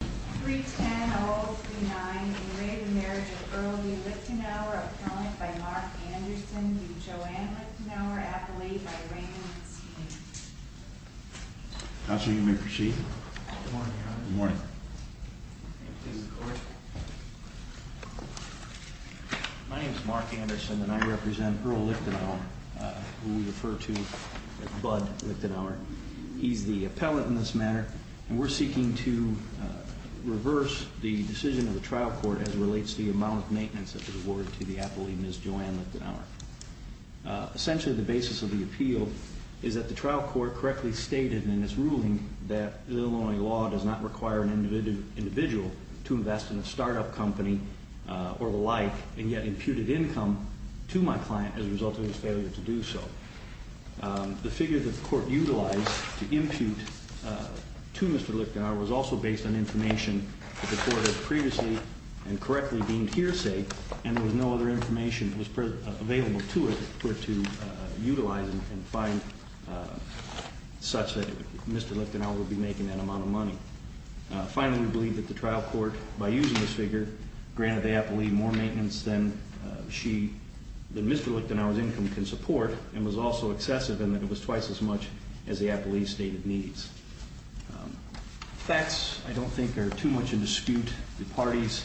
310-039, in re of the marriage of Earl E. Lichtenauer, appellant by Mark Anderson, v. Joanne Lichtenauer, appellate by Raymond McSweeney. Counselor, you may proceed. Good morning, Your Honor. Good morning. My name is Mark Anderson, and I represent Earl Lichtenauer, who we refer to as Bud Lichtenauer. He's the appellate in this matter, and we're seeking to reverse the decision of the trial court as it relates to the amount of maintenance that was awarded to the appellee, Ms. Joanne Lichtenauer. Essentially, the basis of the appeal is that the trial court correctly stated in its ruling that Illinois law does not require an individual to invest in a startup company or the like, and yet imputed income to my client as a result of his failure to do so. The figure that the court utilized to impute to Mr. Lichtenauer was also based on information that the court had previously and correctly deemed hearsay, and there was no other information that was available to it for it to utilize and find such that Mr. Lichtenauer would be making that amount of money. Finally, we believe that the trial court, by using this figure, granted the appellee more maintenance than Mr. Lichtenauer's income can support, and was also excessive in that it was twice as much as the appellee's stated needs. Facts, I don't think, are too much in dispute. The parties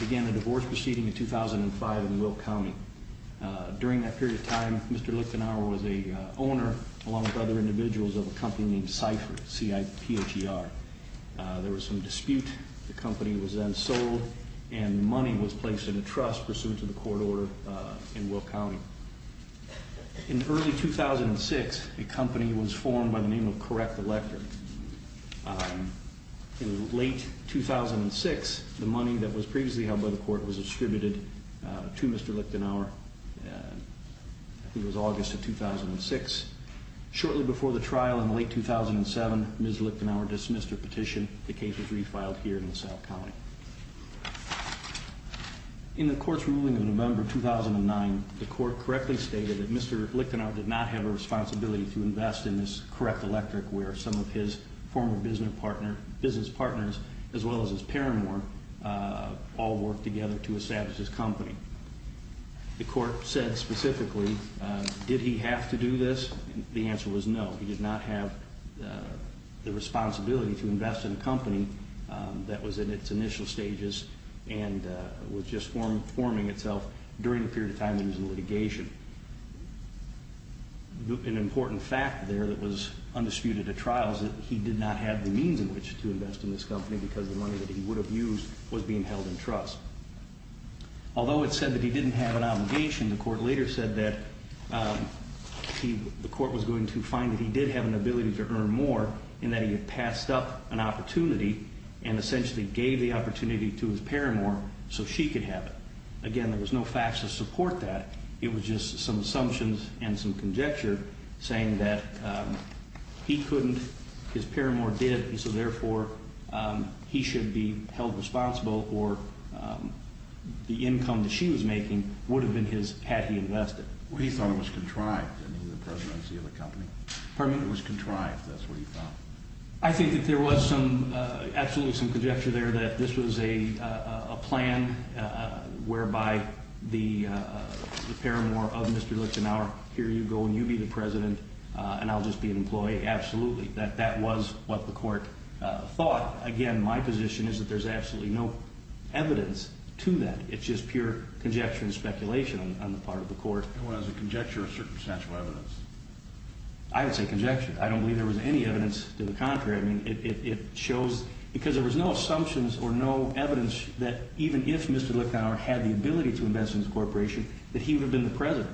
began a divorce proceeding in 2005 in Will County. During that period of time, Mr. Lichtenauer was a owner, along with other individuals, of a company named Cipher, C-I-P-H-E-R. There was some dispute. The company was then sold, and money was placed in a trust pursuant to the court order in Will County. In early 2006, a company was formed by the name of Correct Elector. In late 2006, the money that was previously held by the court was distributed to Mr. Lichtenauer. It was August of 2006. Shortly before the trial in late 2007, Ms. Lichtenauer dismissed her petition. The case was refiled here in the South County. In the court's ruling in November 2009, the court correctly stated that Mr. Lichtenauer did not have a responsibility to invest in this Correct Electric, where some of his former business partners, as well as his paramour, all worked together to establish his company. The court said specifically, did he have to do this? The answer was no. He did not have the responsibility to invest in a company that was in its initial stages, and was just forming itself during the period of time that he was in litigation. An important fact there that was undisputed at trial is that he did not have the means in which to invest in this company because the money that he would have used was being held in trust. Although it said that he didn't have an obligation, the court later said that the court was going to find that he did have an ability to earn more in that he had passed up an opportunity and essentially gave the opportunity to his paramour so she could have it. Again, there was no facts to support that. It was just some assumptions and some conjecture saying that he couldn't, his paramour did, and so therefore he should be held responsible for the income that she was making had he invested. He thought it was contrived, the presidency of the company. Pardon me? It was contrived, that's what he thought. I think that there was absolutely some conjecture there that this was a plan whereby the paramour of Mr. Lichtenauer, here you go and you be the president and I'll just be an employee. Absolutely, that that was what the court thought. Again, my position is that there's absolutely no evidence to that. It's just pure conjecture and speculation on the part of the court. It was a conjecture of circumstantial evidence. I would say conjecture. I don't believe there was any evidence to the contrary. I mean, it shows because there was no assumptions or no evidence that even if Mr. Lichtenauer had the ability to invest in this corporation that he would have been the president.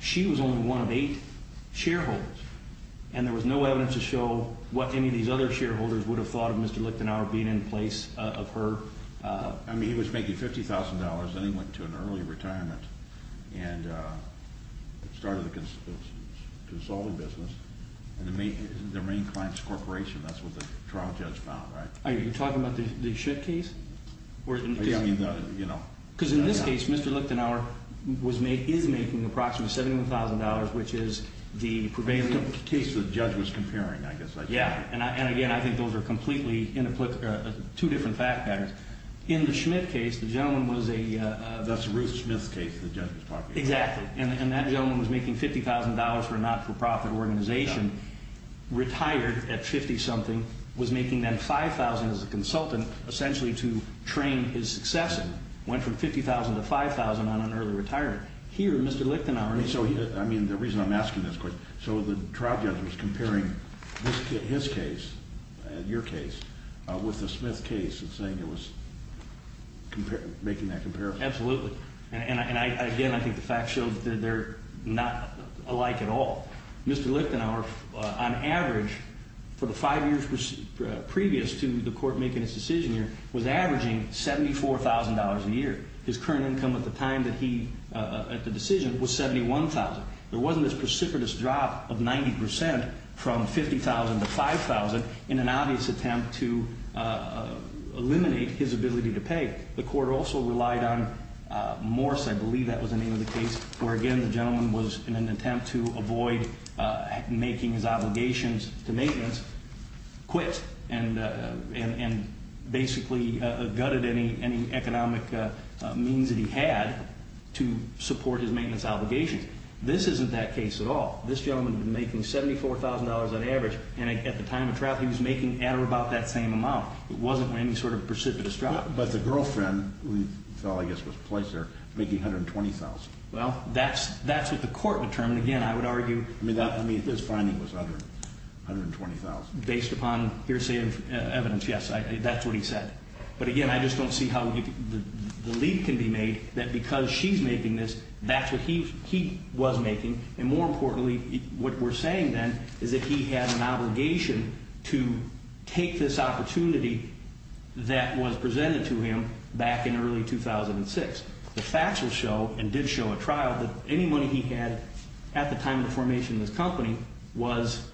She was only one of eight shareholders and there was no evidence to show what any of these other shareholders would have thought of Mr. Lichtenauer being in place of her. I mean, he was making $50,000 then he went to an early retirement and started a consulting business and the main client's corporation, that's what the trial judge found, right? Are you talking about the Schitt case? Yeah, I mean, you know. Because in this case, Mr. Lichtenauer is making approximately $71,000, which is the prevailing... The case the judge was comparing, I guess. Yeah, and again, I think those are completely two different fact patterns. In the Schmitt case, the gentleman was a... That's Ruth Schmitt's case the judge was talking about. Exactly, and that gentleman was making $50,000 for a not-for-profit organization, retired at 50-something, was making then $5,000 as a consultant essentially to train his successors. Went from $50,000 to $5,000 on an early retirement. Here, Mr. Lichtenauer... I mean, the reason I'm asking this question... So the trial judge was comparing his case, your case, with the Schmitt case and saying it was making that comparison? Absolutely. And again, I think the fact shows that they're not alike at all. Mr. Lichtenauer, on average, for the five years previous to the court making its decision here, was averaging $74,000 a year. His current income at the time that he... at the decision was $71,000. There wasn't this precipitous drop of 90% from $50,000 to $5,000 in an obvious attempt to eliminate his ability to pay. The court also relied on Morse, I believe that was the name of the case, where again, the gentleman was in an attempt to avoid making his obligations to maintenance. He just quit and basically gutted any economic means that he had to support his maintenance obligations. This isn't that case at all. This gentleman was making $74,000 on average, and at the time of trial he was making at or about that same amount. It wasn't any sort of precipitous drop. But the girlfriend, who I guess was placed there, making $120,000. Well, that's what the court determined. Again, I would argue... I mean, his finding was $120,000. Based upon hearsay of evidence, yes. That's what he said. But again, I just don't see how the lead can be made that because she's making this, that's what he was making. And more importantly, what we're saying then is that he had an obligation to take this opportunity that was presented to him back in early 2006. The facts will show, and did show at trial, that any money he had at the time of the formation of this company was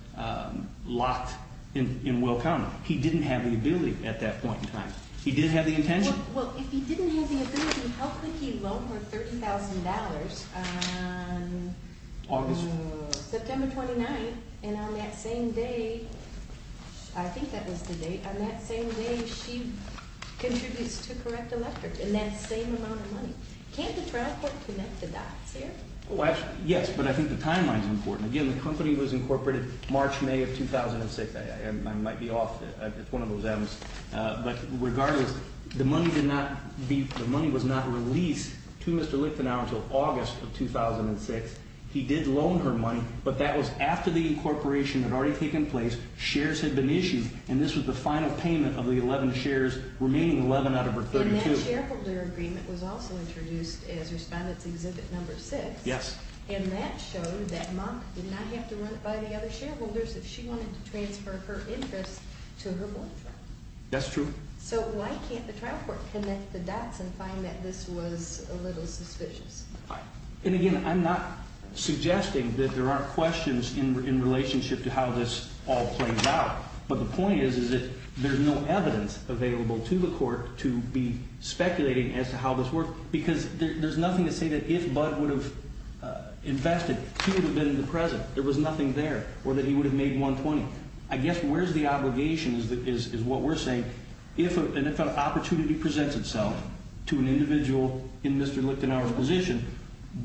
locked in Will Connolly. He didn't have the ability at that point in time. He did have the intention. Well, if he didn't have the ability, how could he loan her $30,000 on... August? September 29th. And on that same day, I think that was the date, on that same day she contributes to Correct Electric. And that same amount of money. Can't the trial court connect the dots there? Yes, but I think the timeline's important. Again, the company was incorporated March, May of 2006. I might be off. It's one of those M's. But regardless, the money was not released to Mr. Lichtenauer until August of 2006. He did loan her money, but that was after the incorporation had already taken place, shares had been issued, and this was the final payment of the 11 shares, remaining 11 out of her 32. And that shareholder agreement was also introduced as Respondent's Exhibit No. 6. Yes. And that showed that Monk did not have to run it by the other shareholders if she wanted to transfer her interest to her boyfriend. That's true. So why can't the trial court connect the dots and find that this was a little suspicious? And again, I'm not suggesting that there aren't questions in relationship to how this all plays out. But the point is that there's no evidence available to the court to be speculating as to how this works because there's nothing to say that if Budd would have invested, she would have been in the present. There was nothing there, or that he would have made $120,000. I guess where's the obligation is what we're saying. If an opportunity presents itself to an individual in Mr. Lichtenauer's position,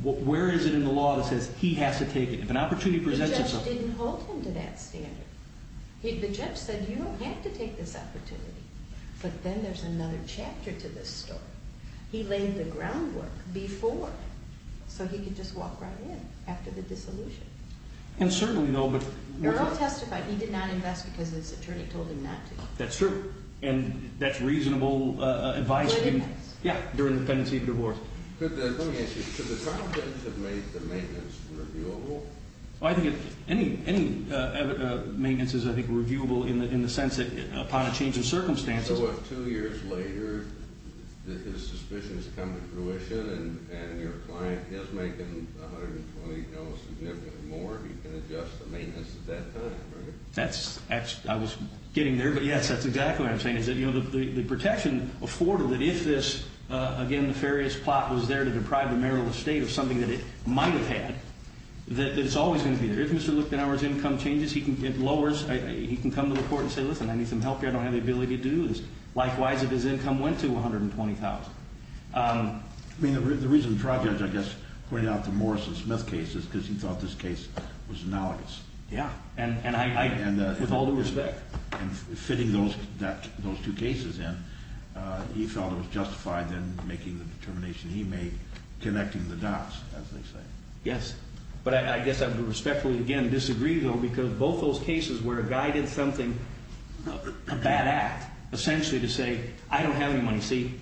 where is it in the law that says he has to take it? If an opportunity presents itself. The judge didn't hold him to that standard. The judge said, you don't have to take this opportunity. But then there's another chapter to this story. He laid the groundwork before so he could just walk right in after the dissolution. And certainly, though, but... Murrow testified he did not invest because his attorney told him not to. That's true. And that's reasonable advice. He did invest. Yeah, during the pendency of divorce. Let me ask you, could the trial judge have made the maintenance reviewable? I think any maintenance is, I think, reviewable in the sense that upon a change in circumstances... So what, two years later, his suspicion has come to fruition, and your client is making $120,000 significantly more, he can adjust the maintenance at that time, right? That's, I was getting there, but yes, that's exactly what I'm saying. The protection afforded that if this, again, nefarious plot was there to deprive the marital estate of something that it might have had, that it's always going to be there. If Mr. Lichtenauer's income changes, it lowers, he can come to the court and say, listen, I need some help here, I don't have the ability to do this. Likewise, if his income went to $120,000. I mean, the reason the trial judge, I guess, pointed out the Morrison-Smith case is because he thought this case was analogous. Yeah, and I, with all due respect. And fitting those two cases in, he felt it was justified in making the determination he made, connecting the dots, as they say. Yes, but I guess I would respectfully, again, disagree though, because both those cases where a guy did something, a bad act, essentially to say, I don't have any money, see?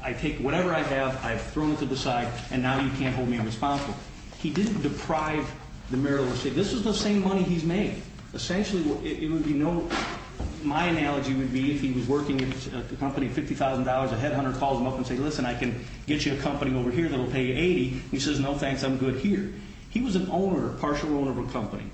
I take whatever I have, I've thrown it to the side, and now you can't hold me responsible. He didn't deprive the marital estate. This is the same money he's made. Essentially, it would be no, my analogy would be if he was working at the company, $50,000, a headhunter calls him up and says, listen, I can get you a company over here that will pay you 80. He says, no thanks, I'm good here. He was an owner, a partial owner of a company,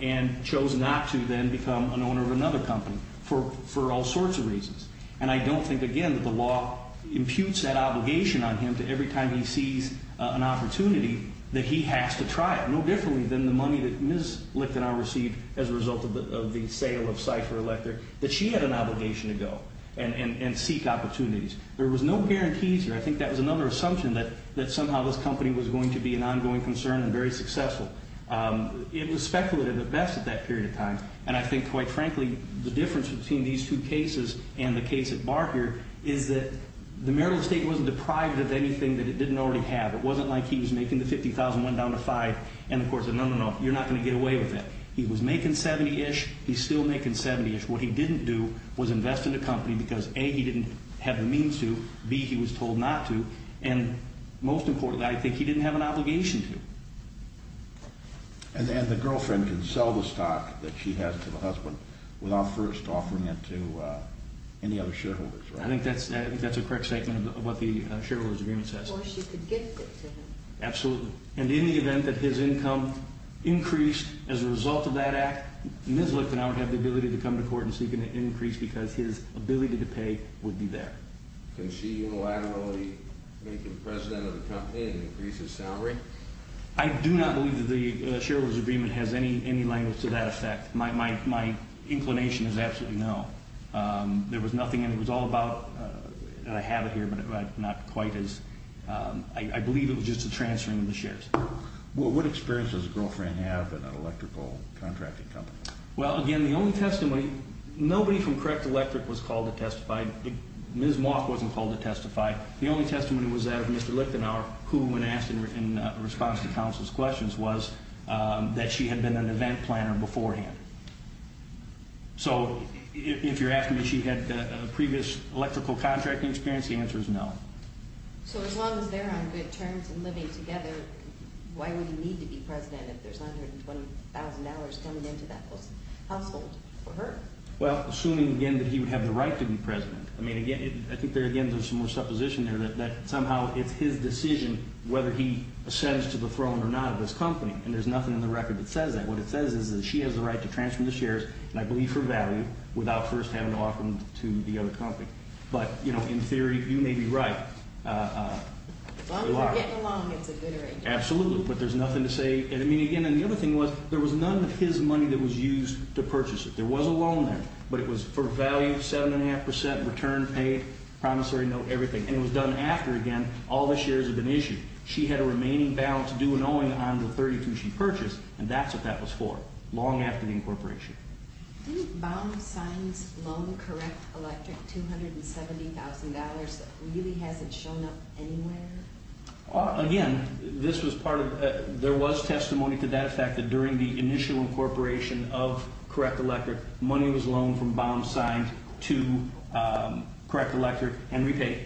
and chose not to then become an owner of another company for all sorts of reasons. And I don't think, again, that the law imputes that obligation on him to every time he sees an opportunity, that he has to try it. No differently than the money that Ms. Licht and I received as a result of the sale of Cipher Electric, that she had an obligation to go and seek opportunities. There was no guarantees here. I think that was another assumption, that somehow this company was going to be an ongoing concern and very successful. It was speculative at best at that period of time. And I think, quite frankly, the difference between these two cases and the case at Barker is that the marital estate wasn't deprived of anything that it didn't already have. It wasn't like he was making the $50,000, went down to $5,000, and the court said, no, no, no, you're not going to get away with it. He was making $70,000-ish, he's still making $70,000-ish. What he didn't do was invest in the company because, A, he didn't have the means to, B, he was told not to, and most importantly, I think he didn't have an obligation to. And the girlfriend can sell the stock that she has to the husband without first offering it to any other shareholders, right? I think that's a correct statement of what the shareholders' agreement says. Or she could gift it to him. Absolutely. And in the event that his income increased as a result of that act, Ms. Licht and I would have the ability to come to court and seek an increase because his ability to pay would be there. Can she unilaterally make him president of the company and increase his salary? I do not believe that the shareholders' agreement has any language to that effect. My inclination is absolutely no. There was nothing in it. It was all about, I have it here, but not quite as. I believe it was just a transferring of the shares. What experience does the girlfriend have in an electrical contracting company? Well, again, the only testimony, nobody from Correct Electric was called to testify. Ms. Moth wasn't called to testify. The only testimony was that of Mr. Lichtenauer, who, when asked in response to counsel's questions, was that she had been an event planner beforehand. So if you're asking me if she had previous electrical contracting experience, the answer is no. So as long as they're on good terms and living together, why would he need to be president if there's 120,000 hours coming into that household for her? Well, assuming, again, that he would have the right to be president. I mean, again, I think there's some more supposition there that somehow it's his decision whether he ascends to the throne or not of this company. And there's nothing in the record that says that. What it says is that she has the right to transfer the shares, and I believe for value, without first having to offer them to the other company. But, you know, in theory, you may be right. As long as they're getting along, it's a good arrangement. Absolutely, but there's nothing to say. And, I mean, again, the other thing was there was none of his money that was used to purchase it. There was a loan there, but it was for value, 7.5 percent return paid, promissory note, everything. And it was done after, again, all the shares had been issued. She had a remaining balance due and owing on the 32 she purchased, and that's what that was for, long after the incorporation. Didn't Baum sign his loan, Correct Electric, $270,000 that really hasn't shown up anywhere? Again, there was testimony to that fact that during the initial incorporation of Correct Electric, money was loaned from Baum signed to Correct Electric and repaid.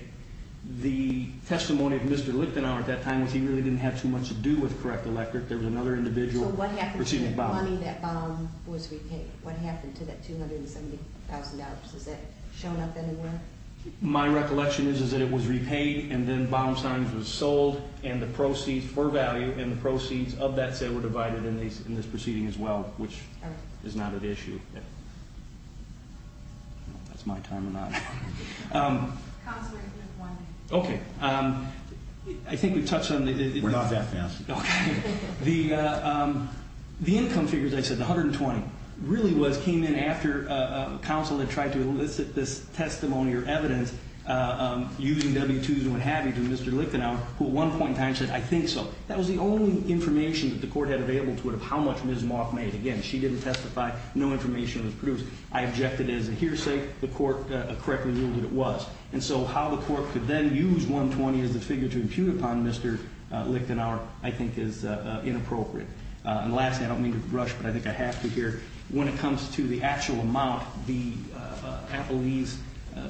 The testimony of Mr. Lichtenauer at that time was he really didn't have too much to do with Correct Electric. There was another individual receiving Baum. The money that Baum was repaid, what happened to that $270,000? Has that shown up anywhere? My recollection is that it was repaid, and then Baum signs was sold, and the proceeds were value, and the proceeds of that say were divided in this proceeding as well, which is not at issue. That's my time or not. Counselor, you have one minute. Okay. I think we touched on the- We're not that fast. Okay. The income figures I said, the $120,000, really came in after counsel had tried to elicit this testimony or evidence using W-2s and what have you to Mr. Lichtenauer, who at one point in time said, I think so. That was the only information that the court had available to it of how much Ms. Malk made. Again, she didn't testify. No information was produced. I objected as a hearsay. The court correctly ruled that it was. And so how the court could then use $120,000 as a figure to impute upon Mr. Lichtenauer, I think, is inappropriate. And lastly, I don't mean to rush, but I think I have to here. When it comes to the actual amount, the appellee's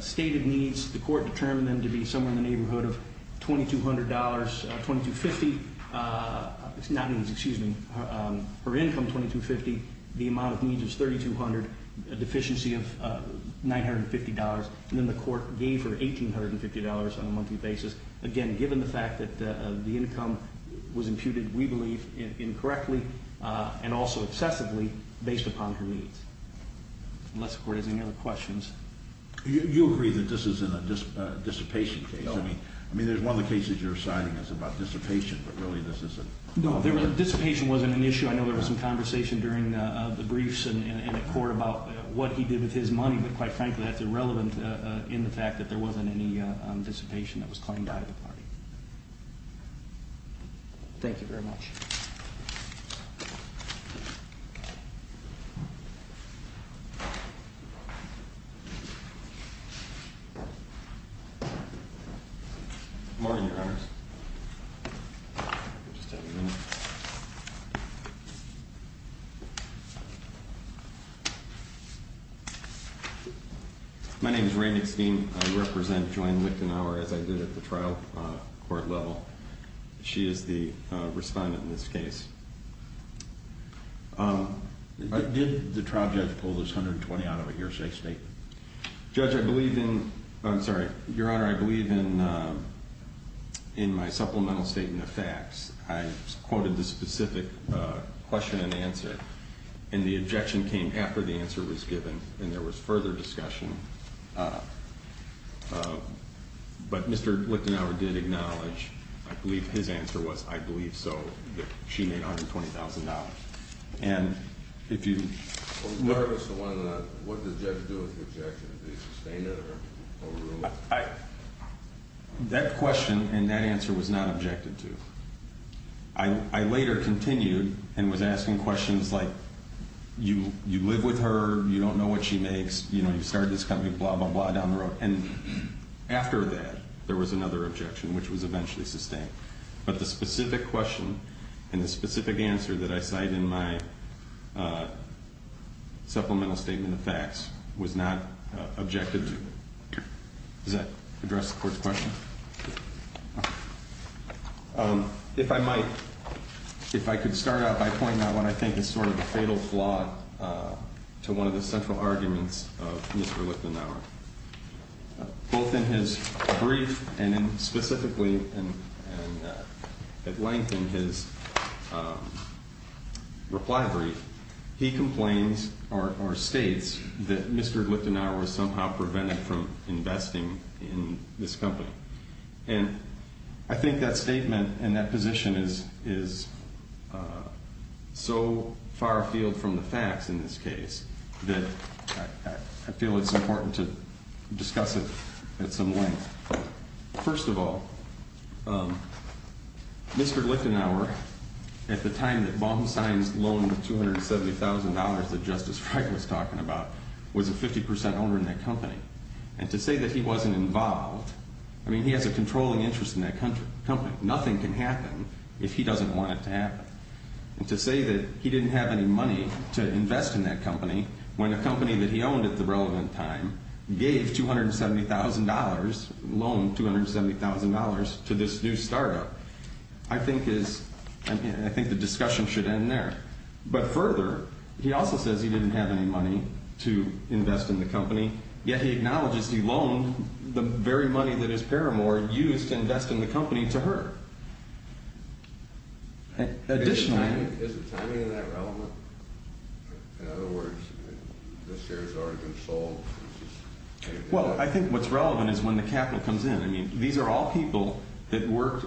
stated needs, the court determined them to be somewhere in the neighborhood of $2,200, $2,250. Excuse me. Her income, $2,250. The amount of needs was $3,200. A deficiency of $950. And then the court gave her $1,850 on a monthly basis. Again, given the fact that the income was imputed, we believe, incorrectly and also excessively based upon her needs. Unless the court has any other questions. You agree that this is a dissipation case. I mean, there's one of the cases you're citing that's about dissipation, but really this isn't. No, dissipation wasn't an issue. I know there was some conversation during the briefs and at court about what he did with his money. But quite frankly, that's irrelevant in the fact that there wasn't any dissipation that was claimed by the party. Thank you very much. Morning, Your Honors. Just a minute. My name is Raymond Skeen. I represent Joanne Lichtenauer, as I did at the trial court level. She is the respondent in this case. Did the trial judge pull this $120 out of a hearsay statement? Judge, I believe in, I'm sorry. Your Honor, I believe in my supplemental statement of facts. I quoted the specific question and answer. And the objection came after the answer was given. And there was further discussion. But Mr. Lichtenauer did acknowledge, I believe his answer was, I believe so, that she made $120,000. And if you... What does the judge do with the objection? Do they sustain it or remove it? That question and that answer was not objected to. I later continued and was asking questions like, you live with her, you don't know what she makes, you know, you started this company, blah, blah, blah, down the road. And after that, there was another objection, which was eventually sustained. But the specific question and the specific answer that I cite in my supplemental statement of facts was not objected to. Does that address the court's question? If I might, if I could start out by pointing out what I think is sort of a fatal flaw to one of the central arguments of Mr. Lichtenauer. Both in his brief and specifically at length in his reply brief, he complains or states that Mr. Lichtenauer was somehow prevented from investing in this company. And I think that statement and that position is so far afield from the facts in this case that I feel it's important to discuss it at some length. First of all, Mr. Lichtenauer, at the time that Baum signs the loan of $270,000 that Justice Frey was talking about, was a 50% owner in that company. And to say that he wasn't involved, I mean, he has a controlling interest in that company. Nothing can happen if he doesn't want it to happen. And to say that he didn't have any money to invest in that company when a company that he owned at the relevant time gave $270,000, loaned $270,000 to this new startup, I think is, I think the discussion should end there. But further, he also says he didn't have any money to invest in the company. Yet he acknowledges he loaned the very money that his paramour used to invest in the company to her. Additionally... Is the timing of that relevant? In other words, the shares have already been sold? Well, I think what's relevant is when the capital comes in. I mean, these are all people that worked...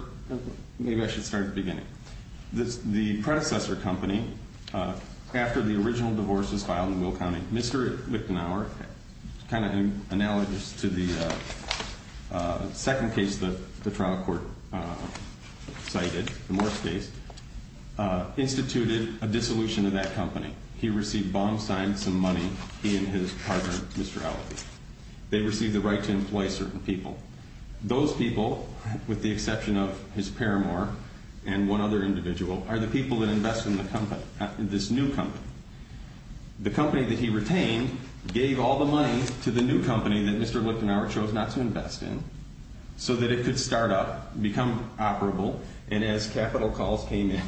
Maybe I should start at the beginning. The predecessor company, after the original divorce was filed in Will County, Mr. Lichtenauer, kind of analogous to the second case that the trial court cited, the Morse case, instituted a dissolution of that company. He received bond signs and money. He and his partner, Mr. Alfie. They received the right to employ certain people. Those people, with the exception of his paramour and one other individual, are the people that invest in this new company. The company that he retained gave all the money to the new company that Mr. Lichtenauer chose not to invest in so that it could start up, become operable, and as capital calls came in,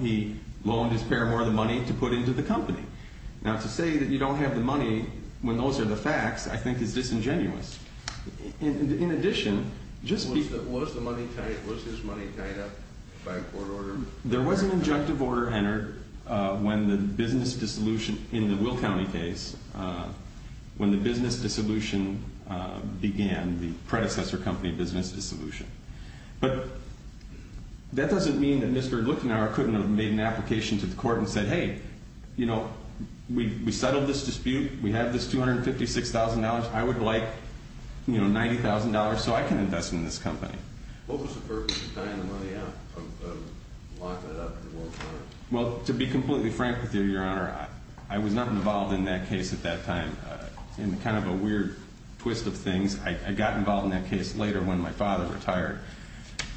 he loaned his paramour the money to put into the company. Now, to say that you don't have the money when those are the facts, I think is disingenuous. In addition, just because... Was his money tied up by a court order? There was an injunctive order entered when the business dissolution in the Will County case, when the business dissolution began, the predecessor company business dissolution. But that doesn't mean that Mr. Lichtenauer couldn't have made an application to the court and said, Hey, you know, we settled this dispute. We have this $256,000. I would like, you know, $90,000 so I can invest in this company. What was the purpose of tying the money up, of locking it up at one point? Well, to be completely frank with you, Your Honor, I was not involved in that case at that time. In kind of a weird twist of things, I got involved in that case later when my father retired.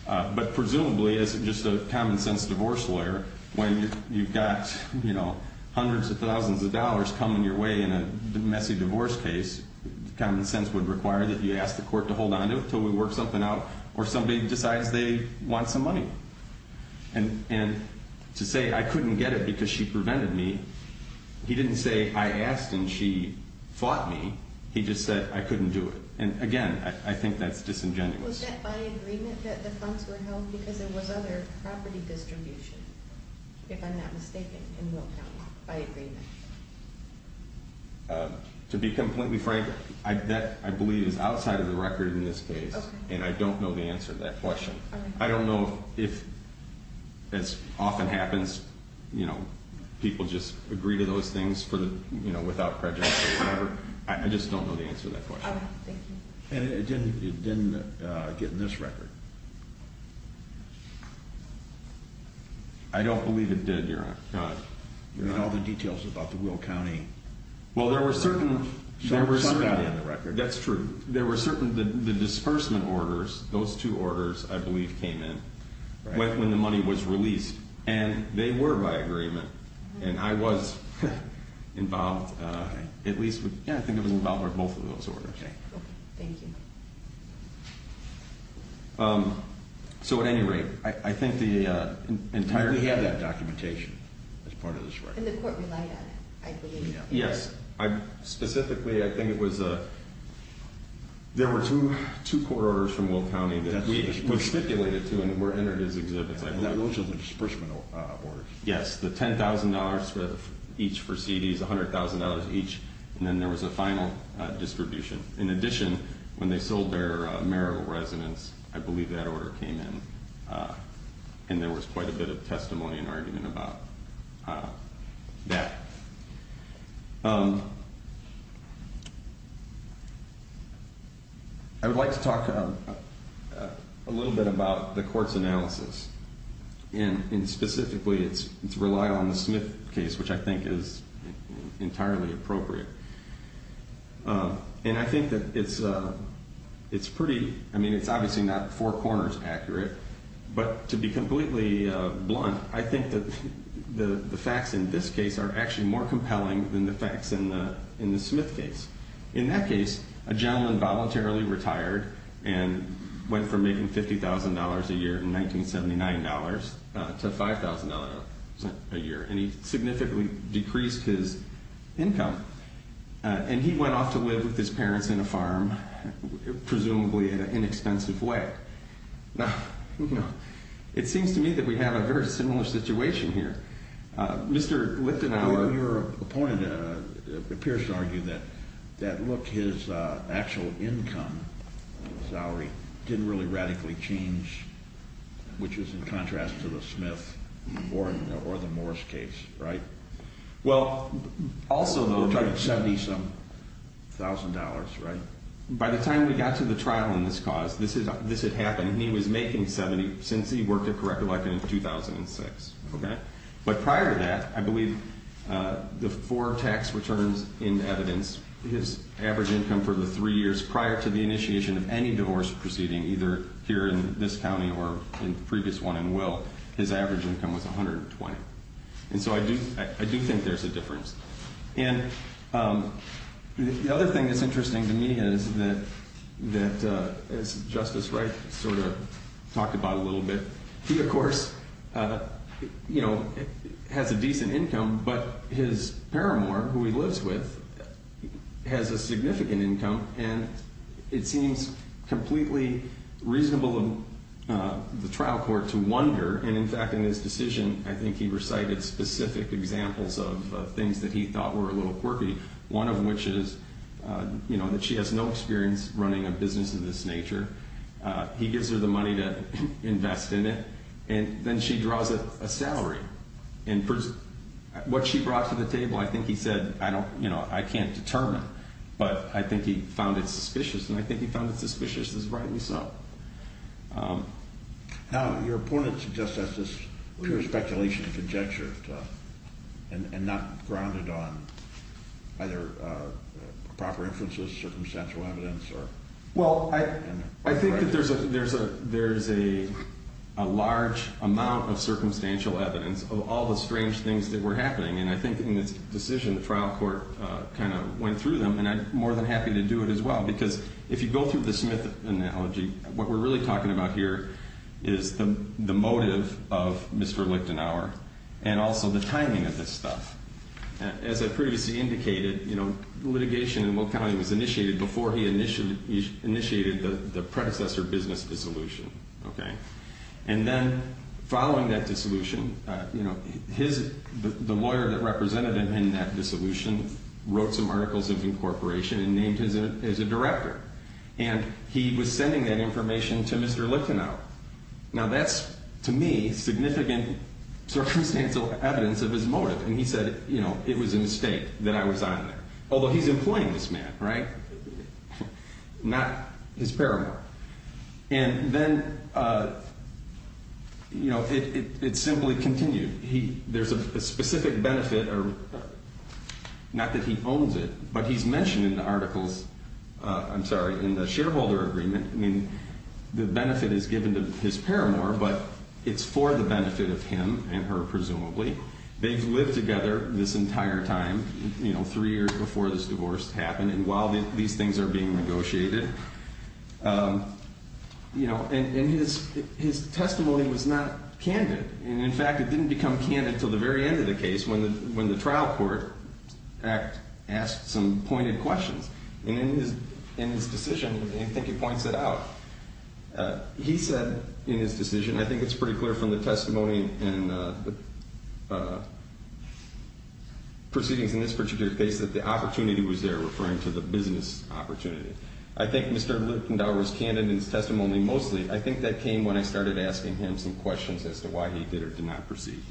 But presumably, as just a common-sense divorce lawyer, when you've got, you know, hundreds of thousands of dollars coming your way in a messy divorce case, common sense would require that you ask the court to hold onto it until we work something out or somebody decides they want some money. And to say I couldn't get it because she prevented me, he didn't say I asked and she fought me. He just said I couldn't do it. And, again, I think that's disingenuous. Was that by agreement that the funds were held because there was other property distribution, if I'm not mistaken, in Will County, by agreement? To be completely frank, that, I believe, is outside of the record in this case, and I don't know the answer to that question. I don't know if, as often happens, you know, people just agree to those things without prejudice or whatever. I just don't know the answer to that question. And it didn't get in this record? I don't believe it did, Your Honor. You mean all the details about the Will County? Well, there were certain... Shucked out in the record. That's true. There were certain, the disbursement orders, those two orders, I believe, came in when the money was released, and they were by agreement. And I was involved, at least, yeah, I think I was involved with both of those orders. Okay, thank you. So, at any rate, I think the entire... We have that documentation as part of this record. And the court relied on it, I believe. Yes. Specifically, I think it was, there were two court orders from Will County that we constipated to and were entered as exhibits, I believe. Those are the disbursement orders. Yes, the $10,000 each for CDs, $100,000 each, and then there was a final distribution. In addition, when they sold their Merrill residence, I believe that order came in. And there was quite a bit of testimony and argument about that. I would like to talk a little bit about the court's analysis. And specifically, it's relied on the Smith case, which I think is entirely appropriate. And I think that it's pretty, I mean, it's obviously not four corners accurate, but to be completely blunt, I think that the facts in this case are actually more compelling than the facts in the Smith case. In that case, a gentleman voluntarily retired and went from making $50,000 a year in 1979 dollars to $5,000 a year. And he significantly decreased his income. And he went off to live with his parents in a farm, presumably in an inexpensive way. Now, you know, it seems to me that we have a very similar situation here. Mr. Lithenauer. Your opponent appears to argue that, look, his actual income, salary, didn't really radically change, which is in contrast to the Smith or the Morris case, right? Well, also though, $70,000, right? By the time we got to the trial in this cause, this had happened, and he was making $70,000 since he worked at Corrective Life in 2006. Okay. But prior to that, I believe the four tax returns in evidence, his average income for the three years prior to the initiation of any divorce proceeding, either here in this county or in the previous one in Will, his average income was $120,000. And so I do think there's a difference. And the other thing that's interesting to me is that, as Justice Wright sort of talked about a little bit, he, of course, you know, has a decent income, but his paramour, who he lives with, has a significant income, and it seems completely reasonable in the trial court to wonder, and in fact, in his decision, I think he recited specific examples of things that he thought were a little quirky, one of which is, you know, that she has no experience running a business of this nature. He gives her the money to invest in it, and then she draws a salary. And what she brought to the table, I think he said, you know, I can't determine, but I think he found it suspicious, and I think he found it suspicious as rightly so. Now, your opponent suggests that's just pure speculation and conjecture, and not grounded on either proper inferences, circumstantial evidence, or... Well, I think that there's a large amount of circumstantial evidence of all the strange things that were happening, and I think in this decision, the trial court kind of went through them, and I'm more than happy to do it as well, because if you go through the Smith analogy, what we're really talking about here is the motive of Mr. Lichtenauer, and also the timing of this stuff. As I previously indicated, you know, litigation in Locali was initiated before he initiated the predecessor business dissolution, okay? And then, following that dissolution, you know, the lawyer that represented him in that dissolution wrote some articles of incorporation and named him as a director, and he was sending that information to Mr. Lichtenauer. Now, that's, to me, significant circumstantial evidence of his motive, and he said, you know, it was a mistake that I was on there. Although he's employing this man, right? Not his paramour. And then, you know, it simply continued. There's a specific benefit, not that he owns it, but he's mentioned in the articles, I'm sorry, in the shareholder agreement, I mean, the benefit is given to his paramour, but it's for the benefit of him and her, presumably. They've lived together this entire time, you know, three years before this divorce happened, and while these things are being negotiated, you know, and his testimony was not candid. And, in fact, it didn't become candid until the very end of the case, when the trial court asked some pointed questions. And in his decision, I think he points it out, he said in his decision, I think it's pretty clear from the testimony and proceedings in this particular case that the opportunity was there, referring to the business opportunity. I think Mr. Lutendow was candid in his testimony mostly. I think that came when I started asking him some questions as to why he did or did not proceed.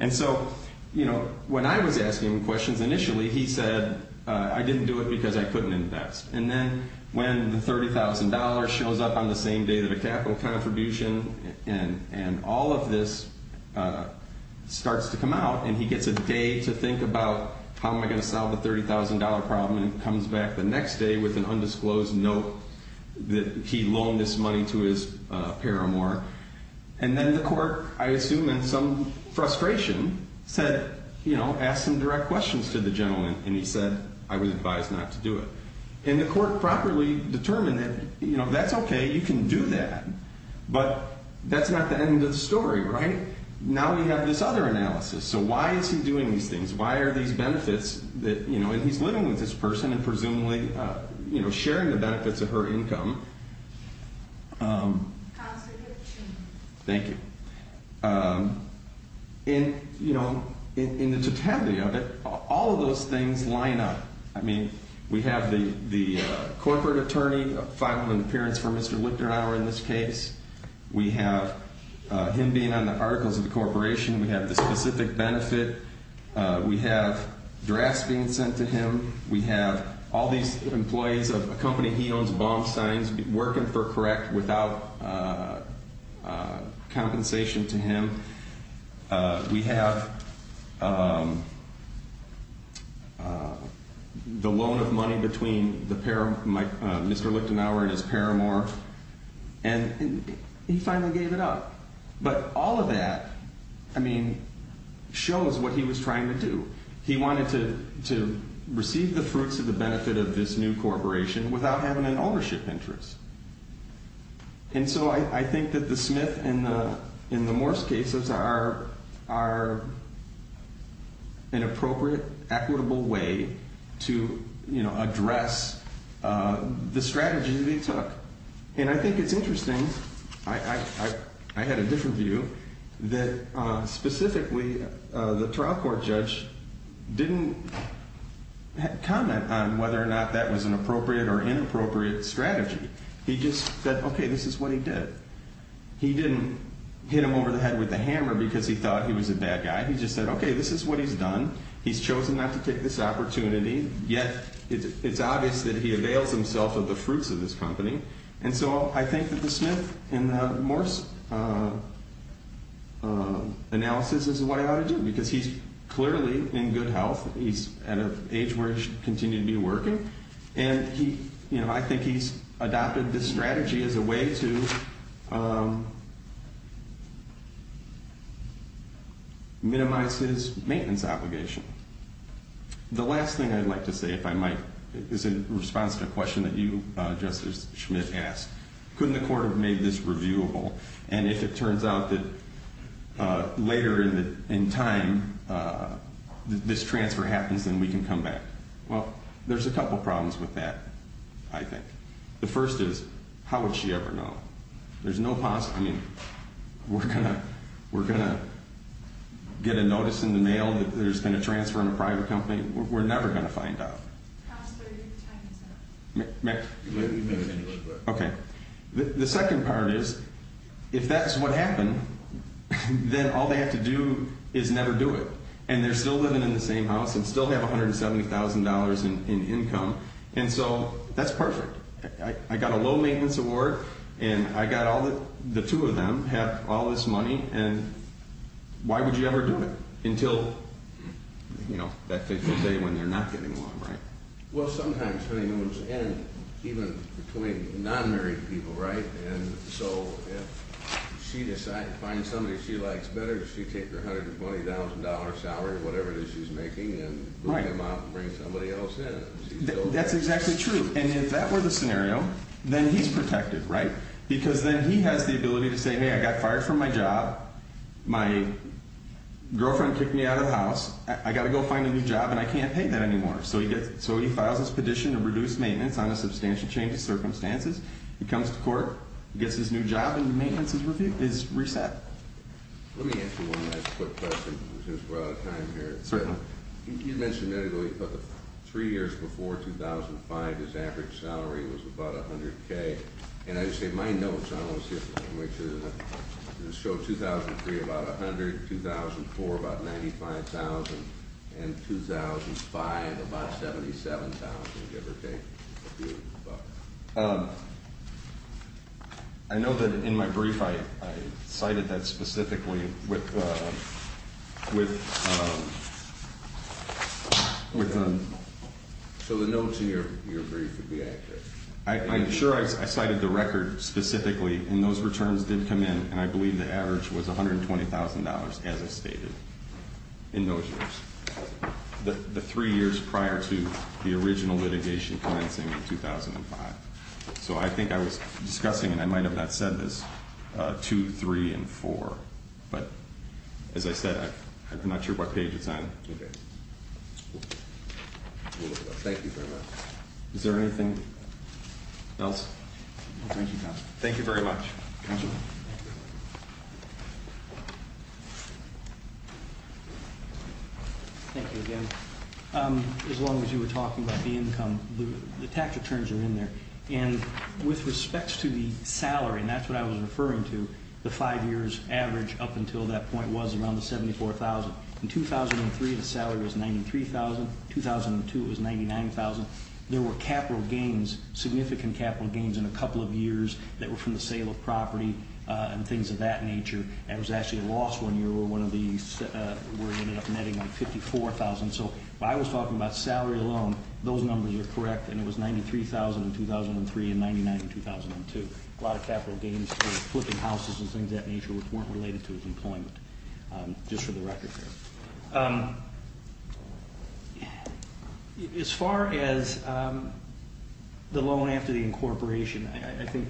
And so, you know, when I was asking him questions initially, he said I didn't do it because I couldn't invest. And then when the $30,000 shows up on the same day that a capital contribution and all of this starts to come out, and he gets a day to think about how am I going to solve the $30,000 problem, and he comes back the next day with an undisclosed note that he loaned this money to his paramour. And then the court, I assume in some frustration, said, you know, asked some direct questions to the gentleman, and he said I was advised not to do it. And the court properly determined that, you know, that's okay, you can do that. But that's not the end of the story, right? Now we have this other analysis. So why is he doing these things? Why are these benefits that, you know, and he's living with this person and presumably, you know, sharing the benefits of her income. Thank you. And, you know, in the totality of it, all of those things line up. I mean, we have the corporate attorney, a five-month appearance for Mr. Lutendow in this case. We have him being on the articles of the corporation. We have the specific benefit. We have drafts being sent to him. We have all these employees of a company he owns, Baumsteins, working for Correct without compensation to him. We have the loan of money between Mr. Lutendow and his paramour. And he finally gave it up. But all of that, I mean, shows what he was trying to do. He wanted to receive the fruits of the benefit of this new corporation without having an ownership interest. And so I think that the Smith and the Morse cases are an appropriate, equitable way to, you know, address the strategy that he took. And I think it's interesting, I had a different view, that specifically the trial court judge didn't comment on whether or not that was an appropriate or inappropriate strategy. He just said, okay, this is what he did. He didn't hit him over the head with a hammer because he thought he was a bad guy. He just said, okay, this is what he's done. He's chosen not to take this opportunity. Yet it's obvious that he avails himself of the fruits of this company. And so I think that the Smith and the Morse analysis is what he ought to do. Because he's clearly in good health. He's at an age where he should continue to be working. And he, you know, I think he's adopted this strategy as a way to minimize his maintenance obligation. The last thing I'd like to say, if I might, is in response to a question that you, Justice Smith, asked. Couldn't the court have made this reviewable? And if it turns out that later in time this transfer happens, then we can come back. Well, there's a couple problems with that, I think. The first is, how would she ever know? There's no possible, I mean, we're going to get a notice in the mail that there's been a transfer in a private company. We're never going to find out. How is 30%? Okay. The second part is, if that's what happened, then all they have to do is never do it. And they're still living in the same house and still have $170,000 in income. And so that's perfect. I got a low maintenance award, and I got all the two of them have all this money. And why would you ever do it? Well, you know, that fits the day when they're not getting along, right? Well, sometimes honeymoons end even between non-married people, right? And so if she decides to find somebody she likes better, she'd take her $120,000 salary, whatever it is she's making, and bring them out and bring somebody else in. That's exactly true. And if that were the scenario, then he's protected, right? Because then he has the ability to say, hey, I got fired from my job. My girlfriend kicked me out of the house. I got to go find a new job, and I can't pay that anymore. So he files his petition to reduce maintenance on a substantial change of circumstances. He comes to court, gets his new job, and the maintenance is reset. Let me ask you one last quick question, since we're out of time here. You mentioned a minute ago, you talked about three years before 2005, his average salary was about $100,000. And I say my notes, I want to see if I can make sure, show 2003 about $100,000, 2004 about $95,000, and 2005 about $77,000, give or take. I know that in my brief, I cited that specifically with... So the notes in your brief would be accurate? I'm sure I cited the record specifically, and those returns did come in, and I believe the average was $120,000, as I stated, in those years. The three years prior to the original litigation commencing in 2005. So I think I was discussing, and I might have not said this, two, three, and four, but as I said, I'm not sure what page it's on. Okay. Thank you very much. Is there anything else? No, thank you, counsel. Thank you very much. Counsel? Thank you again. As long as you were talking about the income, the tax returns are in there. And with respect to the salary, and that's what I was referring to, the five years average up until that point was around $74,000. In 2003, the salary was $93,000. In 2002, it was $99,000. There were capital gains, significant capital gains in a couple of years that were from the sale of property and things of that nature, and it was actually a loss one year where we ended up netting like $54,000. So I was talking about salary alone. Those numbers are correct, and it was $93,000 in 2003 and $99,000 in 2002. A lot of capital gains for flipping houses and things of that nature which weren't related to employment, just for the record. As far as the loan after the incorporation, I think,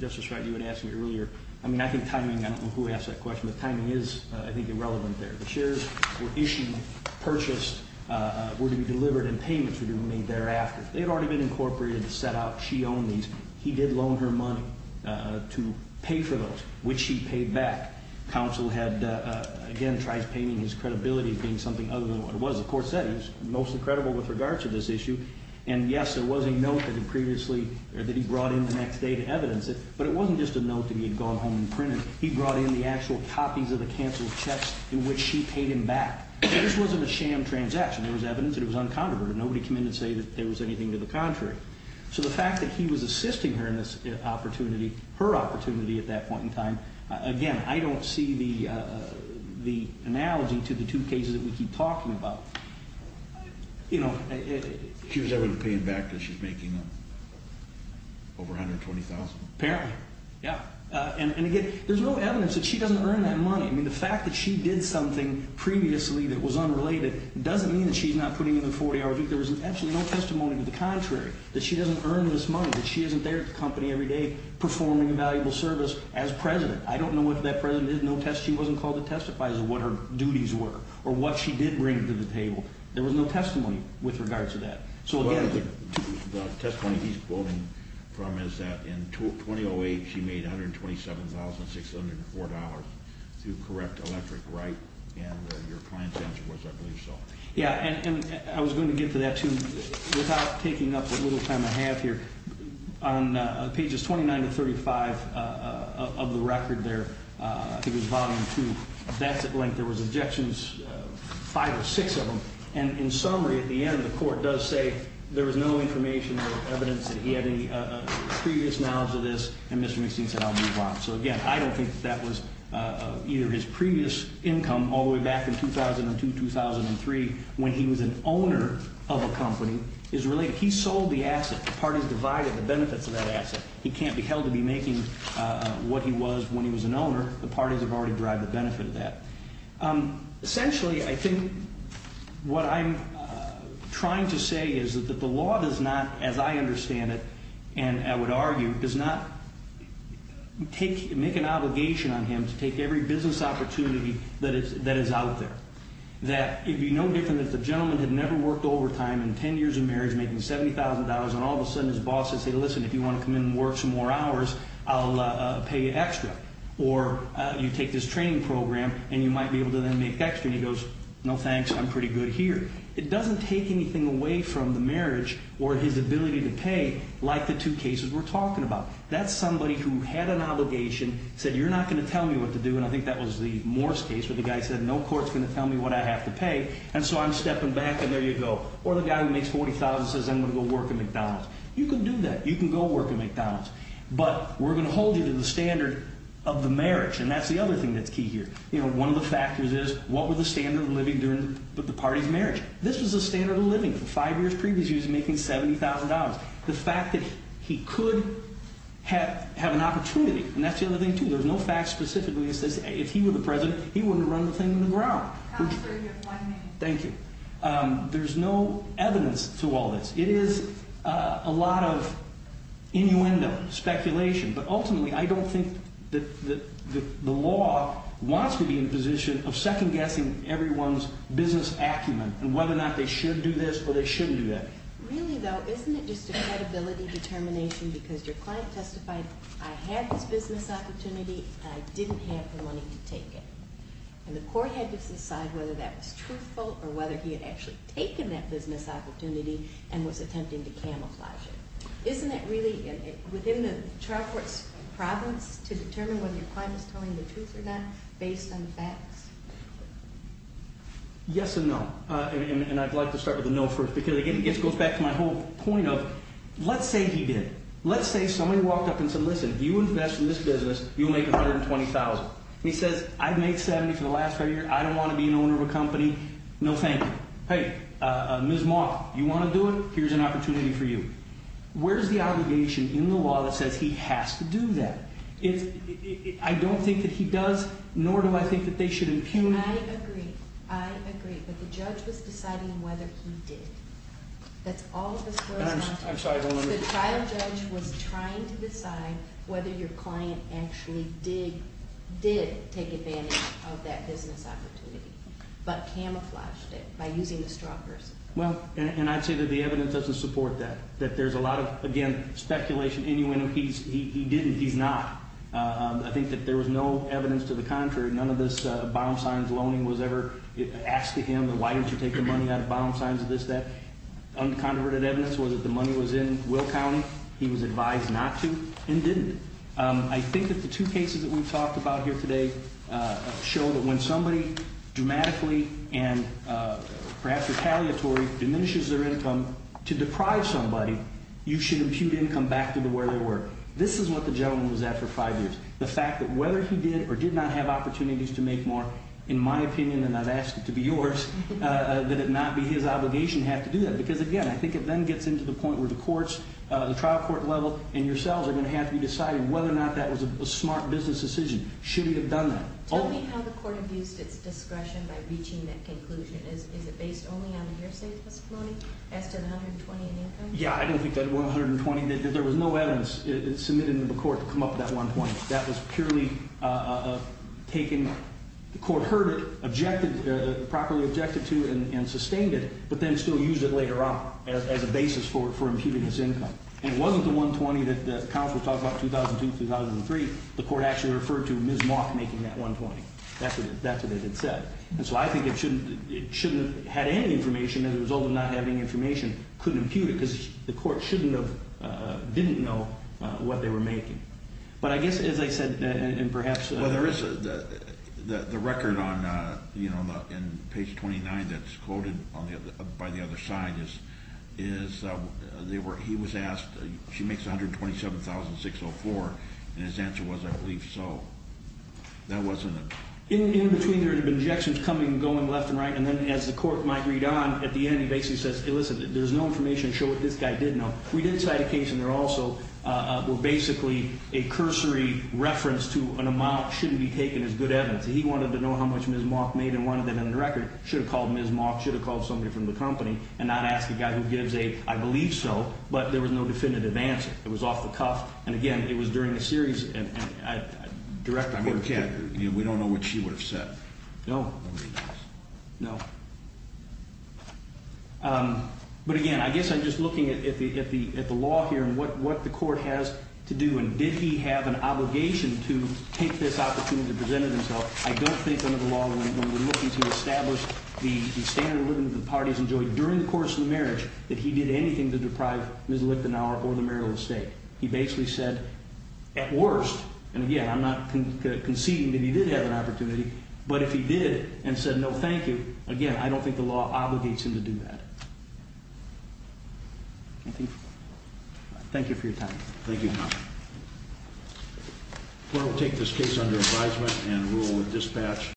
Justice Wright, you had asked me earlier, I mean, I think timing, I don't know who asked that question, but timing is, I think, irrelevant there. The shares were issued, purchased, were to be delivered and payments were to be made thereafter. They had already been incorporated, set out, she owned these. He did loan her money to pay for those, which she paid back. Counsel had, again, tried painting his credibility as being something other than what it was. He was most credible with regards to this issue, and yes, there was a note that he previously, or that he brought in the next day to evidence it, but it wasn't just a note that he had gone home and printed. He brought in the actual copies of the canceled checks in which she paid him back. This wasn't a sham transaction. There was evidence that it was uncontroverted. Nobody came in and said that there was anything to the contrary. So the fact that he was assisting her in this opportunity, her opportunity at that point in time, again, I don't see the analogy to the two cases that we keep talking about. She was able to pay him back because she was making over $120,000. Apparently, yeah. And again, there's no evidence that she doesn't earn that money. The fact that she did something previously that was unrelated doesn't mean that she's not putting in a 40-hour week. There was absolutely no testimony to the contrary, that she doesn't earn this money, that she isn't there at the company every day performing a valuable service as president. I don't know if that president is. She wasn't called to testify as to what her duties were or what she did bring to the table. There's no testimony with regards to that. So again, the testimony he's quoting from is that in 2008, she made $127,604 to correct electric, right? And your client's answer was, I believe so. Yeah. And I was going to get to that, too, without taking up the little time I have here. On pages 29 to 35 of the record there, I think it was volume two, that's at length. There was objections, five or six of them. And in summary, at the end, the court does say there was no information or evidence that he had any previous knowledge of this. And Mr. McSteen said, I'll move on. So again, I don't think that that was either his previous income all the way back in 2002, 2003, when he was an owner of a company, is related. He sold the asset. The parties divided the benefits of that asset. He can't be held to be making what he was when he was an owner. The parties have already derived the benefit of that. Essentially, I think what I'm trying to say is that the law does not, as I understand it, and I would argue, does not make an obligation on him to take every business opportunity that is out there. That it would be no different if the gentleman had never worked overtime in 10 years of marriage making $70,000, and all of a sudden his boss would say, listen, if you want to come in and work some more hours, I'll pay you extra. Or you take this training program and you might be able to then make extra. And he goes, no thanks, I'm pretty good here. It doesn't take anything away from the marriage or his ability to pay like the two cases we're talking about. That's somebody who had an obligation, said you're not going to tell me what to do, and I think that was the Morse case where the guy said no court's going to tell me what I have to pay, and so I'm stepping back, and there you go. Or the guy who makes $40,000 says I'm going to go work at McDonald's. You can do that. You can go work at McDonald's. But we're going to hold you to the standard of the marriage, and that's the other thing that's key here. You know, one of the factors is what were the standard of living during the party's marriage? This was the standard of living. Five years previous, he was making $70,000. The fact that he could have an opportunity, and that's the other thing, too. There's no fact specifically that says if he were the president, he wouldn't have run the thing in the ground. Thank you. There's no evidence to all this. It is a lot of innuendo, speculation, but ultimately I don't think that the law wants to be in a position of second-guessing everyone's business acumen and whether or not they should do this or they shouldn't do that. Really, though, isn't it just a credibility determination because your client testified I had this business opportunity, and I didn't have the money to take it, and the court had to decide whether that was truthful or whether he had actually taken that business opportunity and was attempting to camouflage it. Isn't it really, within the trial court's province, to determine whether your client is telling the truth or not based on facts? Yes and no. And I'd like to start with a no first because it goes back to my whole point of let's say he did. Let's say somebody walked up and said, listen, if you invest in this business, you'll make $120,000. And he says, I've made $70,000 for the last five years. I don't want to be an owner of a company. No, thank you. Hey, Ms. Malk, you want to do it? Here's an opportunity for you. Where's the obligation in the law that says he has to do that? I don't think that he does, nor do I think that they should impugn. I agree. I agree, but the judge was deciding whether he did. That's all of a sudden. I'm sorry. The trial judge was trying to decide whether your client actually did take advantage of that business opportunity. He camouflaged it by using the stalkers. Well, and I'd say that the evidence doesn't support that, that there's a lot of, again, speculation. He didn't. He's not. I think that there was no evidence to the contrary. None of this bottom signs, loaning was ever asked of him. Why don't you take the money out of bottom signs of this, that? Uncontroverted evidence was that the money was in Will County. He was advised not to and didn't. I think that the two cases and perhaps retaliatory diminishes their income. To deprive somebody, you should impugn income back to where they were. This is what the gentleman was at for five years. The fact that whether he did or did not have opportunities to make more, in my opinion, and I've asked it to be yours, that it not be his obligation to have to do that. Because, again, I think it then gets into the point where the courts, and I think that's the conclusion, is it based only on the hearsay testimony as to the $120,000 in income? Yeah, I don't think that $120,000, there was no evidence submitted to the court to come up with that $120,000. That was purely taken, the court heard it, objected, properly objected to and sustained it, but then still used it later on as a basis for impugning his income. And it wasn't the $120,000 that the counsel talked about 2002, 2003, the court actually shouldn't have had any information as a result of not having information, couldn't impugn it, because the court shouldn't have, didn't know what they were making. But I guess, as I said, and perhaps... Well, there is, the record on page 29 that's quoted by the other side is he was asked, she makes $127,604, and his answer was, I believe so. That wasn't... And then as the court might read on, at the end he basically says, listen, there's no information to show what this guy did know. We did cite a case in there also where basically a cursory reference to an amount shouldn't be taken as good evidence. He wanted to know how much Ms. Mock made and wanted that in the record. Should have called Ms. Mock, should have called somebody from the company and not asked a guy who gives a, I believe so, but there was no definitive answer. But again, I guess I'm just looking at the law here and what the court has to do and did he have an obligation to take this opportunity to present it himself. I don't think under the law when we're looking to establish the standard of living that the parties enjoy during the course of the marriage that he did anything to deprive Ms. Lichtenauer or the Maryland state. He basically said, at worst, and again I'm not conceding that he did have an opportunity, but if he did and said, no thank you, again I don't think the law obligates him to do that. Thank you for your time. Thank you. We'll take this case under advisement and rule with dispatch.